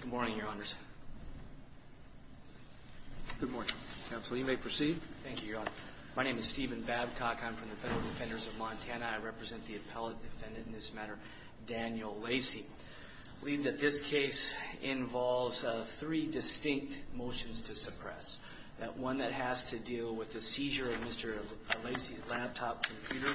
Good morning, Your Honors. Good morning. You may proceed. Thank you, Your Honor. My name is Steven Babcock. I'm from the Federal Defenders of Montana. I represent the appellate defendant in this matter, Daniel Lacey. I believe that this case involves three distinct motions to suppress. One that has to deal with the seizure of Mr. Lacey's laptop computer.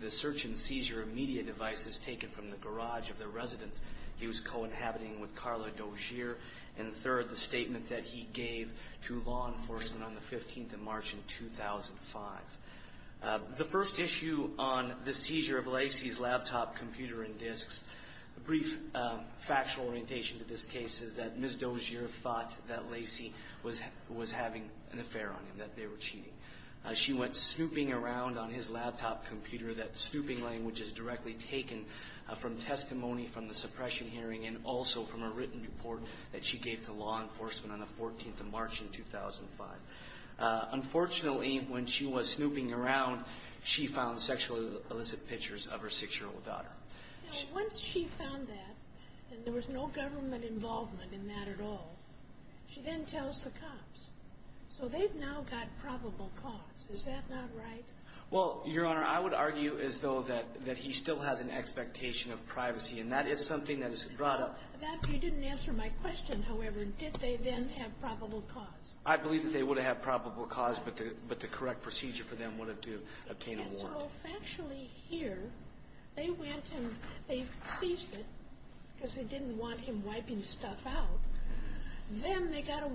The search and seizure of media devices taken from the garage of the residence he was co-inhabiting with Carla Dozier. And third, the statement that he gave to law enforcement on the 15th of March in 2005. The first issue on the seizure of Lacey's laptop computer and disks, a brief factual orientation to this case is that Ms. Dozier thought that Lacey was having an affair on him, that they were cheating. She went snooping around on his laptop computer. That snooping language is directly taken from testimony from the suppression hearing and also from a written report that she gave to law enforcement on the 14th of March in 2005. Unfortunately, when she was snooping around, she found sexually illicit pictures of her six-year-old daughter. Now, once she found that, and there was no government involvement in that at all, she then tells the cops. So they've now got probable cause. Is that not right? Well, Your Honor, I would argue as though that he still has an expectation of privacy, and that is something that is brought up. You didn't answer my question, however. Did they then have probable cause? I believe that they would have probable cause, but the correct procedure for them would have to obtain a warrant. So factually here, they went and they seized it because they didn't want him wiping stuff out. Then they got a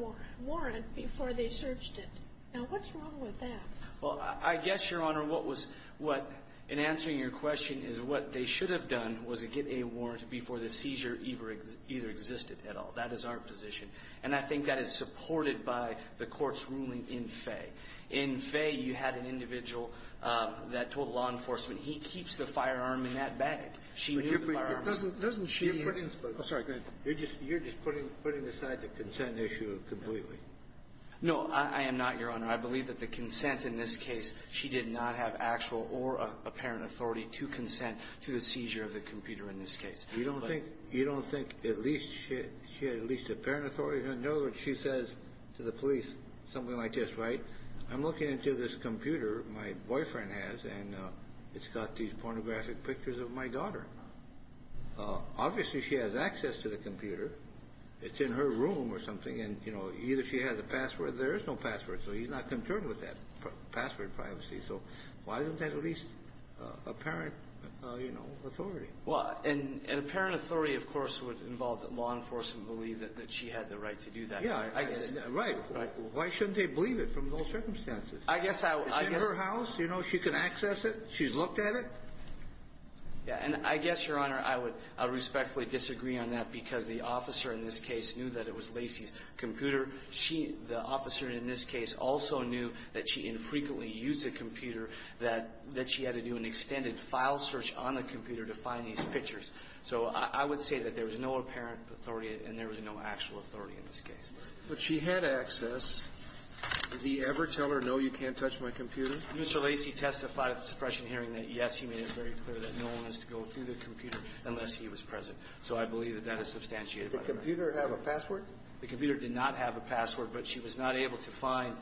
warrant before they searched it. Now, what's wrong with that? Well, I guess, Your Honor, what was what, in answering your question, is what they should have done was to get a warrant before the seizure either existed at all. That is our position. And I think that is supported by the Court's ruling in Fay. In Fay, you had an individual that told law enforcement, he keeps the firearm in that bag. She knew the firearm was there. Doesn't she? Oh, sorry. You're just putting aside the consent issue completely. No, I am not, Your Honor. I believe that the consent in this case, she did not have actual or apparent authority to consent to the seizure of the computer in this case. You don't think at least she had at least apparent authority? In other words, she says to the police something like this, right? I'm looking into this computer my boyfriend has, and it's got these pornographic pictures of my daughter. Obviously, she has access to the computer. It's in her room or something. And, you know, either she has a password. There is no password. So he's not concerned with that password privacy. So why isn't that at least apparent, you know, authority? Well, and apparent authority, of course, would involve that law enforcement believe that she had the right to do that. Yeah, right. Why shouldn't they believe it from those circumstances? I guess I would. It's in her house. You know she can access it. She's looked at it. Yeah. And I guess, Your Honor, I would respectfully disagree on that because the officer in this case knew that it was Lacey's computer. She, the officer in this case, also knew that she infrequently used the computer, that she had to do an extended file search on the computer to find these pictures. So I would say that there was no apparent authority, and there was no actual authority in this case. Did he ever tell her, no, you can't touch my computer? Mr. Lacey testified at the suppression hearing that, yes, he made it very clear that no one is to go through the computer unless he was present. So I believe that that is substantiated by the fact that he did. Did the computer have a password? The computer did not have a password, but she was not able to find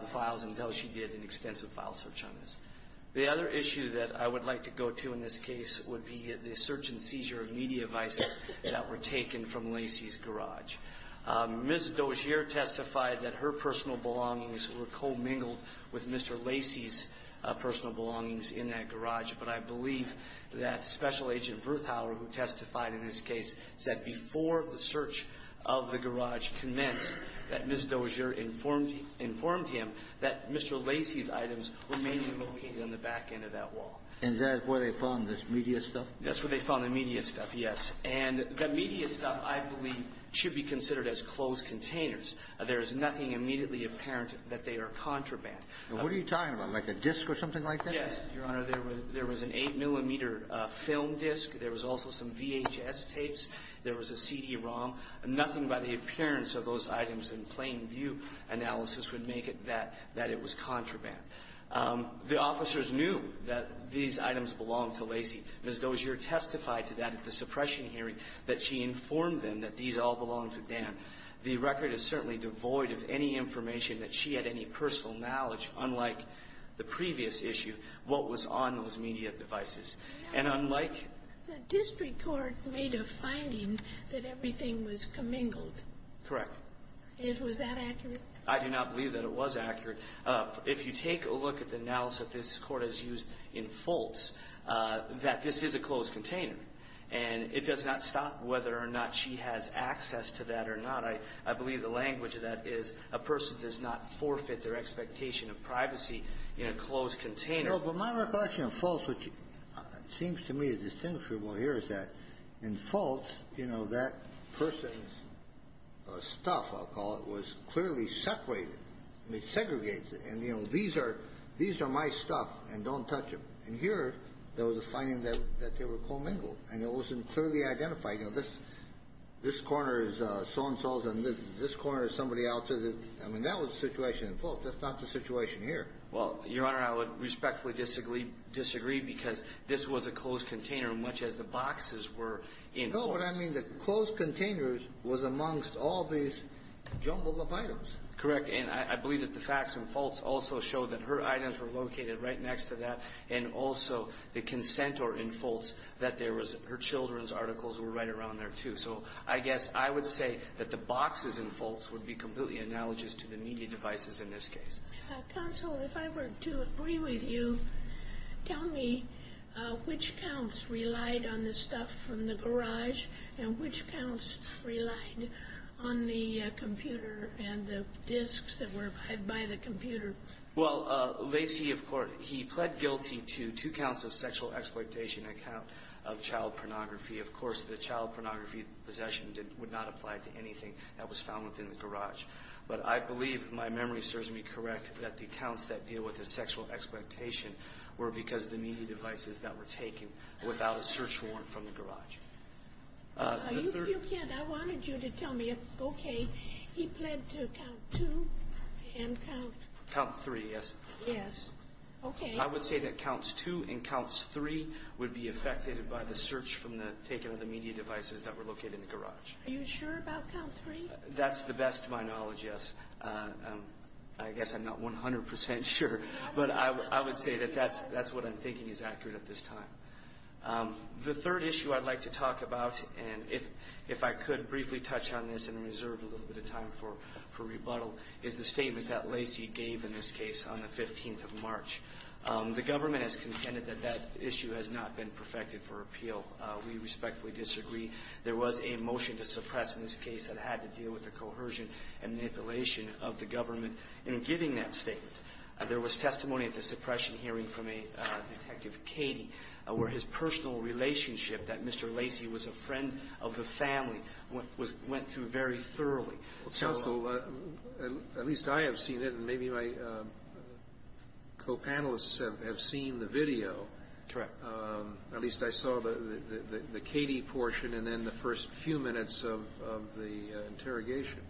the files until she did an extensive file search on this. The other issue that I would like to go to in this case would be the search and seizure of media devices that were taken from Lacey's garage. Ms. Dozier testified that her personal belongings were co-mingled with Mr. Lacey's personal belongings in that garage. But I believe that Special Agent Verthauer, who testified in this case, said before the search of the garage commenced that Ms. Dozier informed him that Mr. Lacey's items were mainly located on the back end of that wall. And that's where they found this media stuff? That's where they found the media stuff, yes. And the media stuff, I believe, should be considered as closed containers. There is nothing immediately apparent that they are contraband. And what are you talking about, like a disc or something like that? Yes, Your Honor. There was an 8-millimeter film disc. There was also some VHS tapes. There was a CD-ROM. Nothing by the appearance of those items in plain view analysis would make it that it was contraband. The officers knew that these items belonged to Lacey. Ms. Dozier testified to that at the suppression hearing, that she informed them that these all belonged to Dan. The record is certainly devoid of any information that she had any personal knowledge, unlike the previous issue, what was on those media devices. And unlike the district court made a finding that everything was commingled. Correct. Was that accurate? I do not believe that it was accurate. If you take a look at the analysis that this Court has used in Fultz, that this is a closed container. And it does not stop whether or not she has access to that or not. I believe the language of that is a person does not forfeit their expectation of privacy in a closed container. No, but my recollection of Fultz, which seems to me is distinguishable here, is that in Fultz, you know, that person's stuff, I'll call it, was clearly separated, segregated. And, you know, these are my stuff and don't touch them. And here, there was a finding that they were commingled. And it wasn't clearly identified. You know, this corner is so-and-so's and this corner is somebody else's. I mean, that was the situation in Fultz. That's not the situation here. Well, Your Honor, I would respectfully disagree because this was a closed container, much as the boxes were in Fultz. No, but I mean the closed containers was amongst all these jumbled up items. Correct. And I believe that the facts in Fultz also show that her items were located right next to that. And also, the consentor in Fultz, that there was her children's articles were right around there, too. So I guess I would say that the boxes in Fultz would be completely analogous to the media devices in this case. Counsel, if I were to agree with you, tell me which accounts relied on the stuff from the garage and which accounts relied on the computer and the disks that were by the computer. Well, Lacey, of course, he pled guilty to two counts of sexual exploitation and a count of child pornography. Of course, the child pornography possession would not apply to anything that was found within the garage. But I believe my memory serves me correct that the counts that deal with the sexual exploitation were because of the media devices that were taken without a search warrant from the garage. You can't. I wanted you to tell me if, okay, he pled to count two and count. Count three, yes. Yes. Okay. I would say that counts two and counts three would be affected by the search from the taking of the media devices that were located in the garage. Are you sure about count three? That's the best to my knowledge, yes. I guess I'm not 100% sure. But I would say that that's what I'm thinking is accurate at this time. The third issue I'd like to talk about, and if I could briefly touch on this and reserve a little bit of time for rebuttal, is the statement that Lacey gave in this case on the 15th of March. The government has contended that that issue has not been perfected for appeal. We respectfully disagree. There was a motion to suppress in this case that had to deal with the coercion and manipulation of the government in giving that statement. There was testimony at the suppression hearing from Detective Cady where his personal relationship that Mr. Lacey was a friend of the family went through very thoroughly. Counsel, at least I have seen it and maybe my co-panelists have seen the video. Correct. At least I saw the Cady portion and then the first few minutes of the interrogation.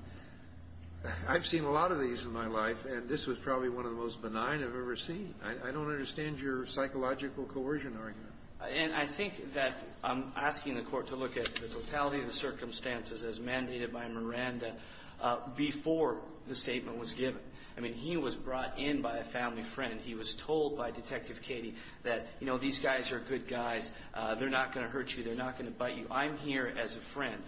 I've seen a lot of these in my life, and this was probably one of the most benign I've ever seen. I don't understand your psychological coercion argument. And I think that I'm asking the Court to look at the totality of the circumstances as mandated by Miranda before the statement was given. I mean, he was brought in by a family friend. He was told by Detective Cady that, you know, these guys are good guys. They're not going to hurt you. They're not going to bite you. I'm here as a friend.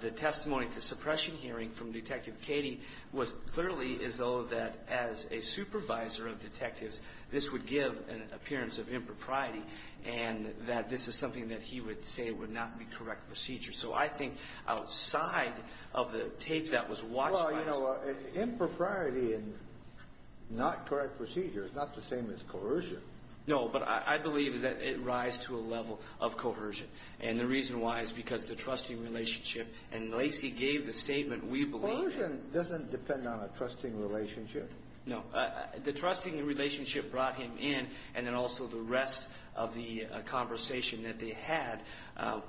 The testimony at the suppression hearing from Detective Cady was clearly as though that as a supervisor of detectives, this would give an appearance of impropriety and that this is something that he would say would not be correct procedure. So I think outside of the tape that was watched by us. Well, you know, impropriety and not correct procedure is not the same as coercion. No, but I believe that it rises to a level of coercion. And the reason why is because the trusting relationship. And Lacey gave the statement, we believe. Coercion doesn't depend on a trusting relationship. No. The trusting relationship brought him in and then also the rest of the conversation that they had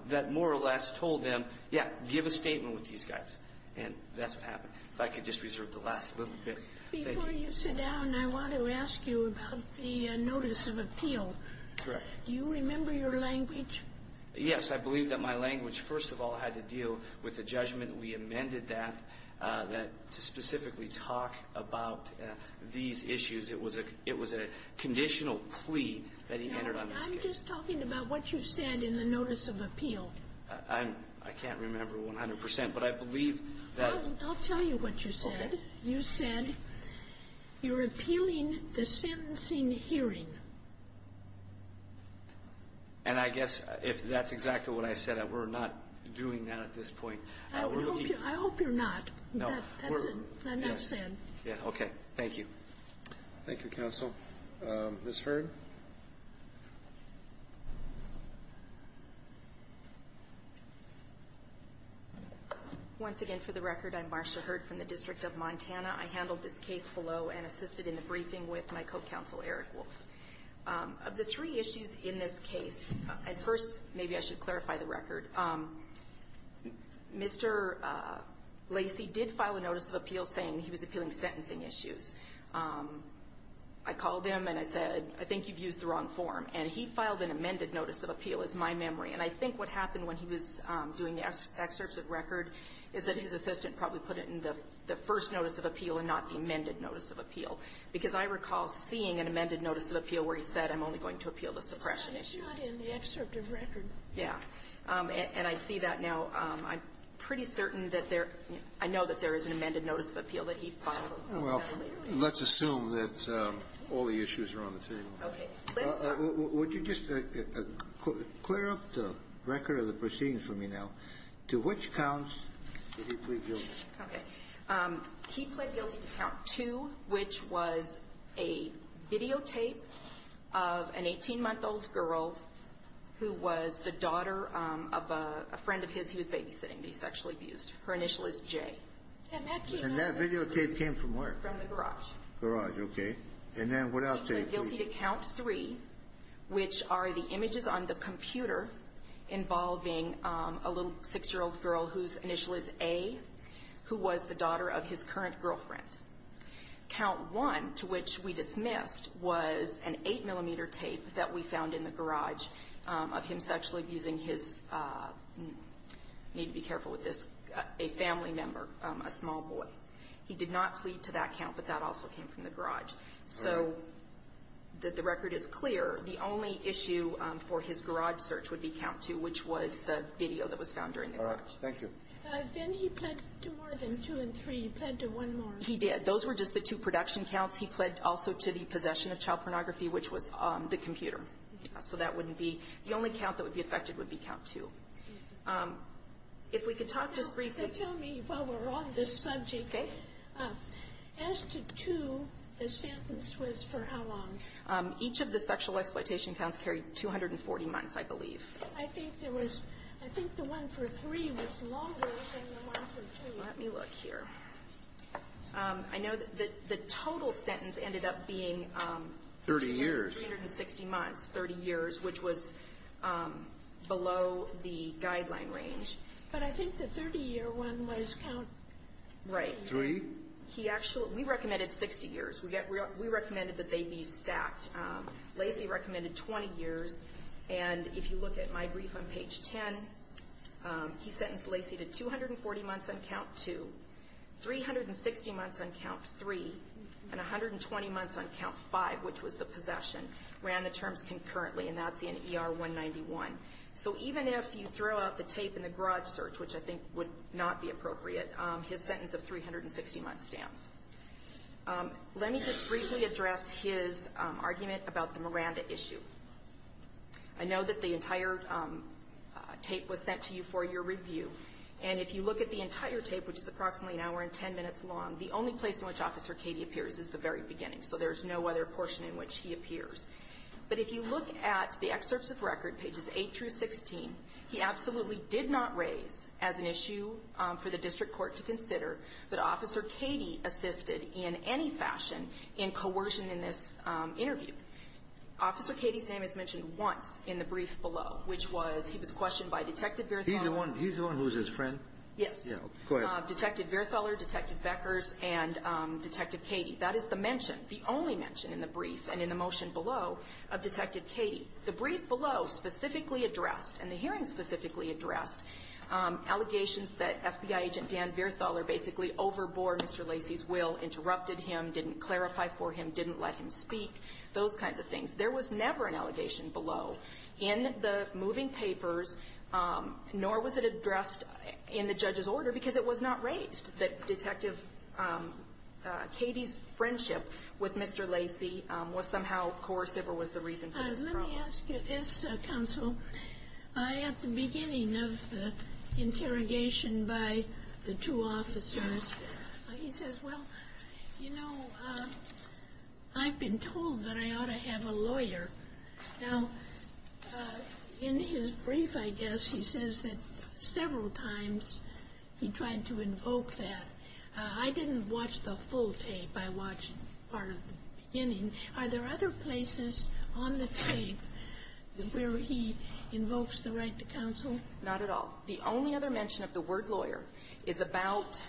that more or less told them, yeah, give a statement with these guys. And that's what happened. If I could just reserve the last little bit. Before you sit down, I want to ask you about the notice of appeal. Correct. Do you remember your language? Yes. I believe that my language, first of all, had to deal with the judgment. We amended that to specifically talk about these issues. It was a conditional plea that he entered on this case. I'm just talking about what you said in the notice of appeal. I can't remember 100 percent, but I believe that. I'll tell you what you said. Okay. You said you're appealing the sentencing hearing. And I guess if that's exactly what I said, we're not doing that at this point. I hope you're not. No. That's it. I'm not saying. Okay. Thank you. Thank you, counsel. Ms. Hurd. Once again, for the record, I'm Marcia Hurd from the District of Montana. I handled this case below and assisted in the briefing with my co-counsel, Eric Wolf. Of the three issues in this case, at first, maybe I should clarify the record. Mr. Lacy did file a notice of appeal saying he was appealing sentencing issues. I called him and I said, I think you've used the wrong form. And he filed an amended notice of appeal, is my memory. And I think what happened when he was doing the excerpts of record is that his assistant probably put it in the first notice of appeal and not the amended notice of appeal. Because I recall seeing an amended notice of appeal where he said, I'm only going to appeal the suppression issues. It's not in the excerpt of record. Yeah. And I see that now. I'm pretty certain that there – I know that there is an amended notice of appeal that he filed. Well, let's assume that all the issues are on the table. Okay. Would you just clear up the record of the proceedings for me now. To which counts did he plead guilty? Okay. He pled guilty to count two, which was a videotape of an 18-month-old girl who was the daughter of a friend of his who was babysitting the sexually abused. Her initial is J. And that videotape came from where? From the garage. Garage. Okay. And then what else did he plead guilty to? He pleaded guilty to count three, which are the images on the computer involving a little 6-year-old girl whose initial is A, who was the daughter of his current girlfriend. Count one, to which we dismissed, was an 8-millimeter tape that we found in the garage of him sexually abusing his – I need to be careful with this – a family member, a small boy. He did not plead to that count, but that also came from the garage. All right. So the record is clear. The only issue for his garage search would be count two, which was the video that was found during the garage. All right. Thank you. Then he pled to more than two and three. He pled to one more. He did. Those were just the two production counts. He pled also to the possession of child pornography, which was the computer. So that wouldn't be – the only count that would be affected would be count two. If we could talk just briefly – Each of the sexual exploitation counts carried 240 months, I believe. I think there was – I think the one for three was longer than the one for two. Let me look here. I know that the total sentence ended up being – 30 years. 360 months, 30 years, which was below the guideline range. But I think the 30-year one was count – Right. Three? He actually – we recommended 60 years. We recommended that they be stacked. Lacy recommended 20 years. And if you look at my brief on page 10, he sentenced Lacy to 240 months on count two, 360 months on count three, and 120 months on count five, which was the possession. Ran the terms concurrently, and that's in ER-191. So even if you throw out the tape in the garage search, which I think would not be appropriate, his sentence of 360 months stands. Let me just briefly address his argument about the Miranda issue. I know that the entire tape was sent to you for your review. And if you look at the entire tape, which is approximately an hour and ten minutes long, the only place in which Officer Cady appears is the very beginning. So there's no other portion in which he appears. But if you look at the excerpts of record, pages 8 through 16, he absolutely did not raise as an issue for the district court to consider that Officer Cady assisted in any fashion in coercion in this interview. Officer Cady's name is mentioned once in the brief below, which was he was questioned by Detective Veerthaler. He's the one who was his friend? Yes. Go ahead. Detective Veerthaler, Detective Beckers, and Detective Cady. That is the mention, the only mention in the brief and in the motion below of Detective The brief below specifically addressed and the hearing specifically addressed allegations that FBI agent Dan Veerthaler basically overbore Mr. Lacey's will, interrupted him, didn't clarify for him, didn't let him speak, those kinds of things. There was never an allegation below in the moving papers, nor was it addressed in the judge's order because it was not raised that Detective Cady's friendship with Mr. Lacey was somehow coercive or was the reason for this problem. Let me ask you this, Counsel. At the beginning of the interrogation by the two officers, he says, well, you know, I've been told that I ought to have a lawyer. Now, in his brief, I guess, he says that several times he tried to invoke that. I didn't watch the full tape. I watched part of the beginning. Are there other places on the tape where he invokes the right to counsel? Not at all. The only other mention of the word lawyer is about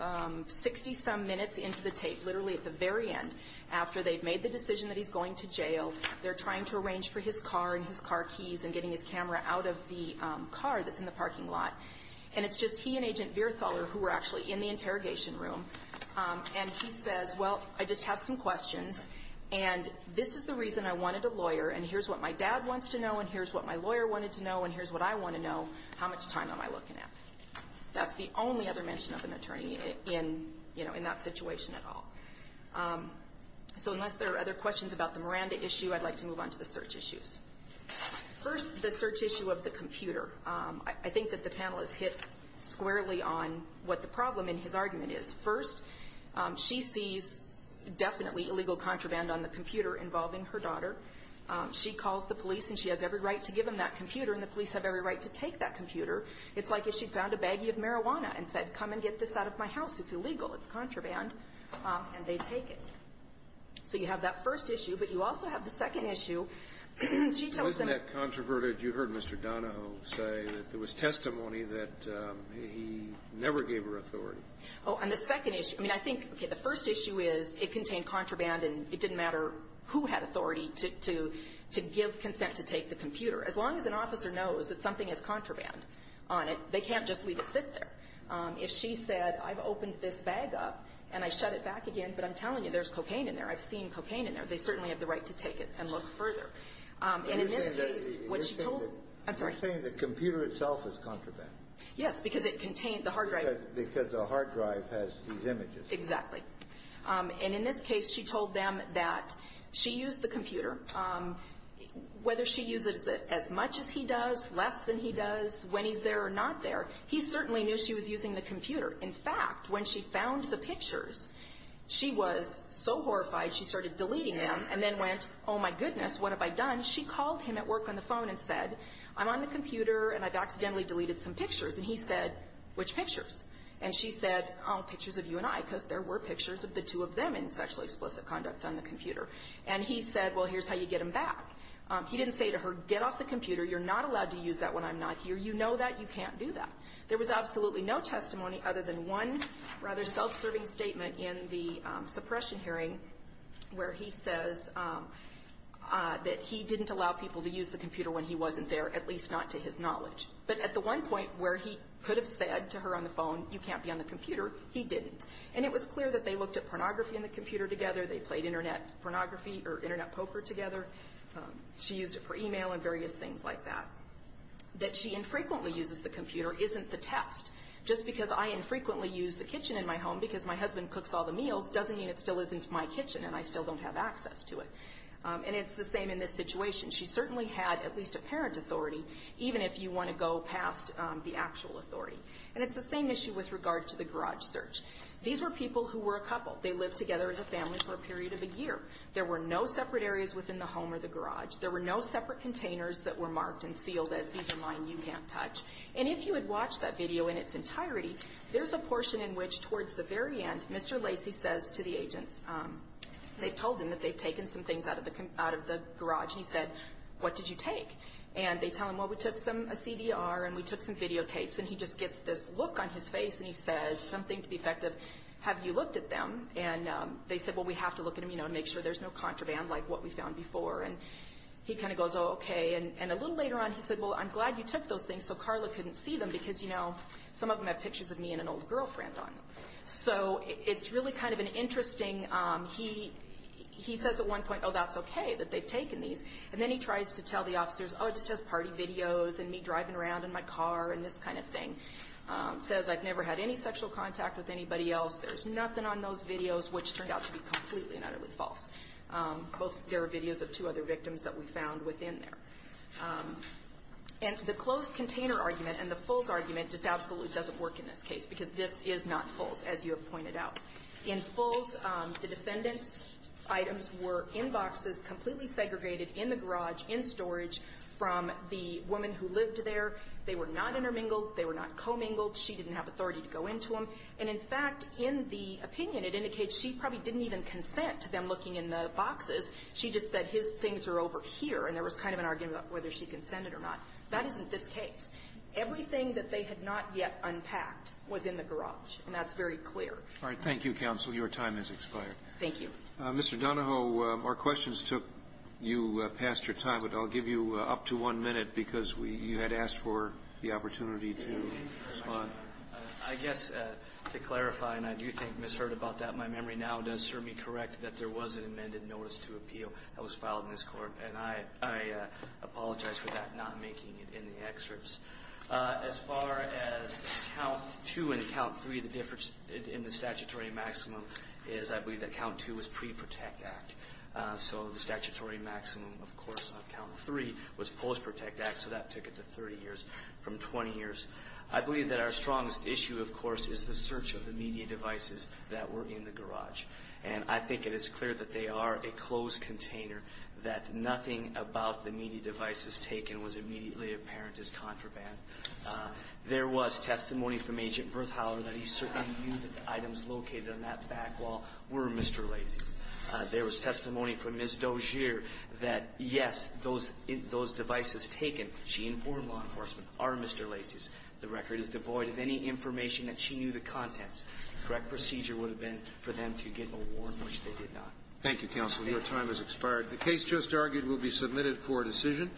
60-some minutes into the tape, literally at the very end, after they've made the decision that he's going to jail, they're trying to arrange for his car and his car keys and getting his camera out of the car that's in the parking lot, and it's just he and Agent Veerthaler who are actually in the interrogation room, and he says, well, I just have some questions, and this is the reason I wanted a lawyer, and here's what my dad wants to know, and here's what my lawyer wanted to know, and here's what I want to know. How much time am I looking at? That's the only other mention of an attorney in, you know, in that situation at all. So unless there are other questions about the Miranda issue, I'd like to move on to the search issues. First, the search issue of the computer. I think that the panel has hit squarely on what the problem in his argument is. First, she sees definitely illegal contraband on the computer involving her daughter. She calls the police, and she has every right to give him that computer, and the police have every right to take that computer. It's like if she found a baggie of marijuana and said, come and get this out of my house, it's illegal, it's contraband, and they take it. So you have that first issue. But you also have the second issue. She tells them the ---- Wasn't that controverted? You heard Mr. Donahoe say that there was testimony that he never gave her authority. Oh, and the second issue. I mean, I think, okay, the first issue is it contained contraband, and it didn't matter who had authority to give consent to take the computer. As long as an officer knows that something has contraband on it, they can't just leave it sit there. I'm not telling you there's cocaine in there. I've seen cocaine in there. They certainly have the right to take it and look further. And in this case, what she told ---- I'm sorry. You're saying the computer itself is contraband. Yes, because it contained the hard drive. Because the hard drive has these images. Exactly. And in this case, she told them that she used the computer. Whether she uses it as much as he does, less than he does, when he's there or not there, he certainly knew she was using the computer. In fact, when she found the pictures, she was so horrified, she started deleting them, and then went, oh, my goodness, what have I done? She called him at work on the phone and said, I'm on the computer, and I've accidentally deleted some pictures. And he said, which pictures? And she said, oh, pictures of you and I, because there were pictures of the two of them in sexually explicit conduct on the computer. And he said, well, here's how you get them back. He didn't say to her, get off the computer. You're not allowed to use that when I'm not here. You know that. You can't do that. There was absolutely no testimony other than one rather self-serving statement in the suppression hearing, where he says that he didn't allow people to use the computer when he wasn't there, at least not to his knowledge. But at the one point where he could have said to her on the phone, you can't be on the computer, he didn't. And it was clear that they looked at pornography on the computer together. They played internet pornography or internet poker together. She used it for e-mail and various things like that. That she infrequently uses the computer isn't the test. Just because I infrequently use the kitchen in my home because my husband cooks all the meals doesn't mean it still isn't my kitchen and I still don't have access to it. And it's the same in this situation. She certainly had at least a parent authority, even if you want to go past the actual authority. And it's the same issue with regard to the garage search. These were people who were a couple. They lived together as a family for a period of a year. There were no separate areas within the home or the garage. There were no separate containers that were marked and sealed as these are mine, you can't touch. And if you had watched that video in its entirety, there's a portion in which towards the very end, Mr. Lacy says to the agents, they've told him that they've taken some things out of the garage. And he said, what did you take? And they tell him, well, we took some CDR and we took some videotapes. And he just gets this look on his face and he says something to the effect of, have you looked at them? And they said, well, we have to look at them, you know, and make sure there's no contraband like what we found before. And he kind of goes, oh, okay. And a little later on he said, well, I'm glad you took those things so Carla couldn't see them because, you know, some of them have pictures of me and an old girlfriend on them. So it's really kind of an interesting, he says at one point, oh, that's okay that they've taken these. And then he tries to tell the officers, oh, it's just party videos and me driving around in my car and this kind of thing. Says I've never had any sexual contact with anybody else. There's nothing on those videos, which turned out to be completely and utterly false. Both, there are videos of two other victims that we found within there. And the closed container argument and the FULS argument just absolutely doesn't work in this case because this is not FULS, as you have pointed out. In FULS, the defendant's items were in boxes completely segregated in the garage, in storage, from the woman who lived there. They were not intermingled. They were not commingled. She didn't have authority to go into them. And, in fact, in the opinion, it indicates she probably didn't even consent to them looking in the boxes. She just said his things are over here. And there was kind of an argument about whether she consented or not. That isn't this case. Everything that they had not yet unpacked was in the garage. And that's very clear. Roberts. Thank you, counsel. Your time has expired. Thank you. Mr. Donahoe, our questions took you past your time, but I'll give you up to one minute because we you had asked for the opportunity to respond. I guess to clarify, and I do think misheard about that, my memory now does certainly correct that there was an amended notice to appeal that was filed in this court. And I apologize for that, not making it in the excerpts. As far as count two and count three, the difference in the statutory maximum is I believe that count two was pre-protect act. So the statutory maximum, of course, on count three was post-protect act, so that took it to 30 years from 20 years. I believe that our strongest issue, of course, is the search of the media devices that were in the garage. And I think it is clear that they are a closed container, that nothing about the media devices taken was immediately apparent as contraband. There was testimony from Agent Bertholder that he certainly knew that the items located on that back wall were Mr. Lacey's. There was testimony from Ms. Dozier that, yes, those devices taken, she informed law enforcement, are Mr. Lacey's. The record is devoid of any information that she knew the contents. The correct procedure would have been for them to get a warrant, which they did not. Thank you, counsel. Your time has expired. The case just argued will be submitted for decision.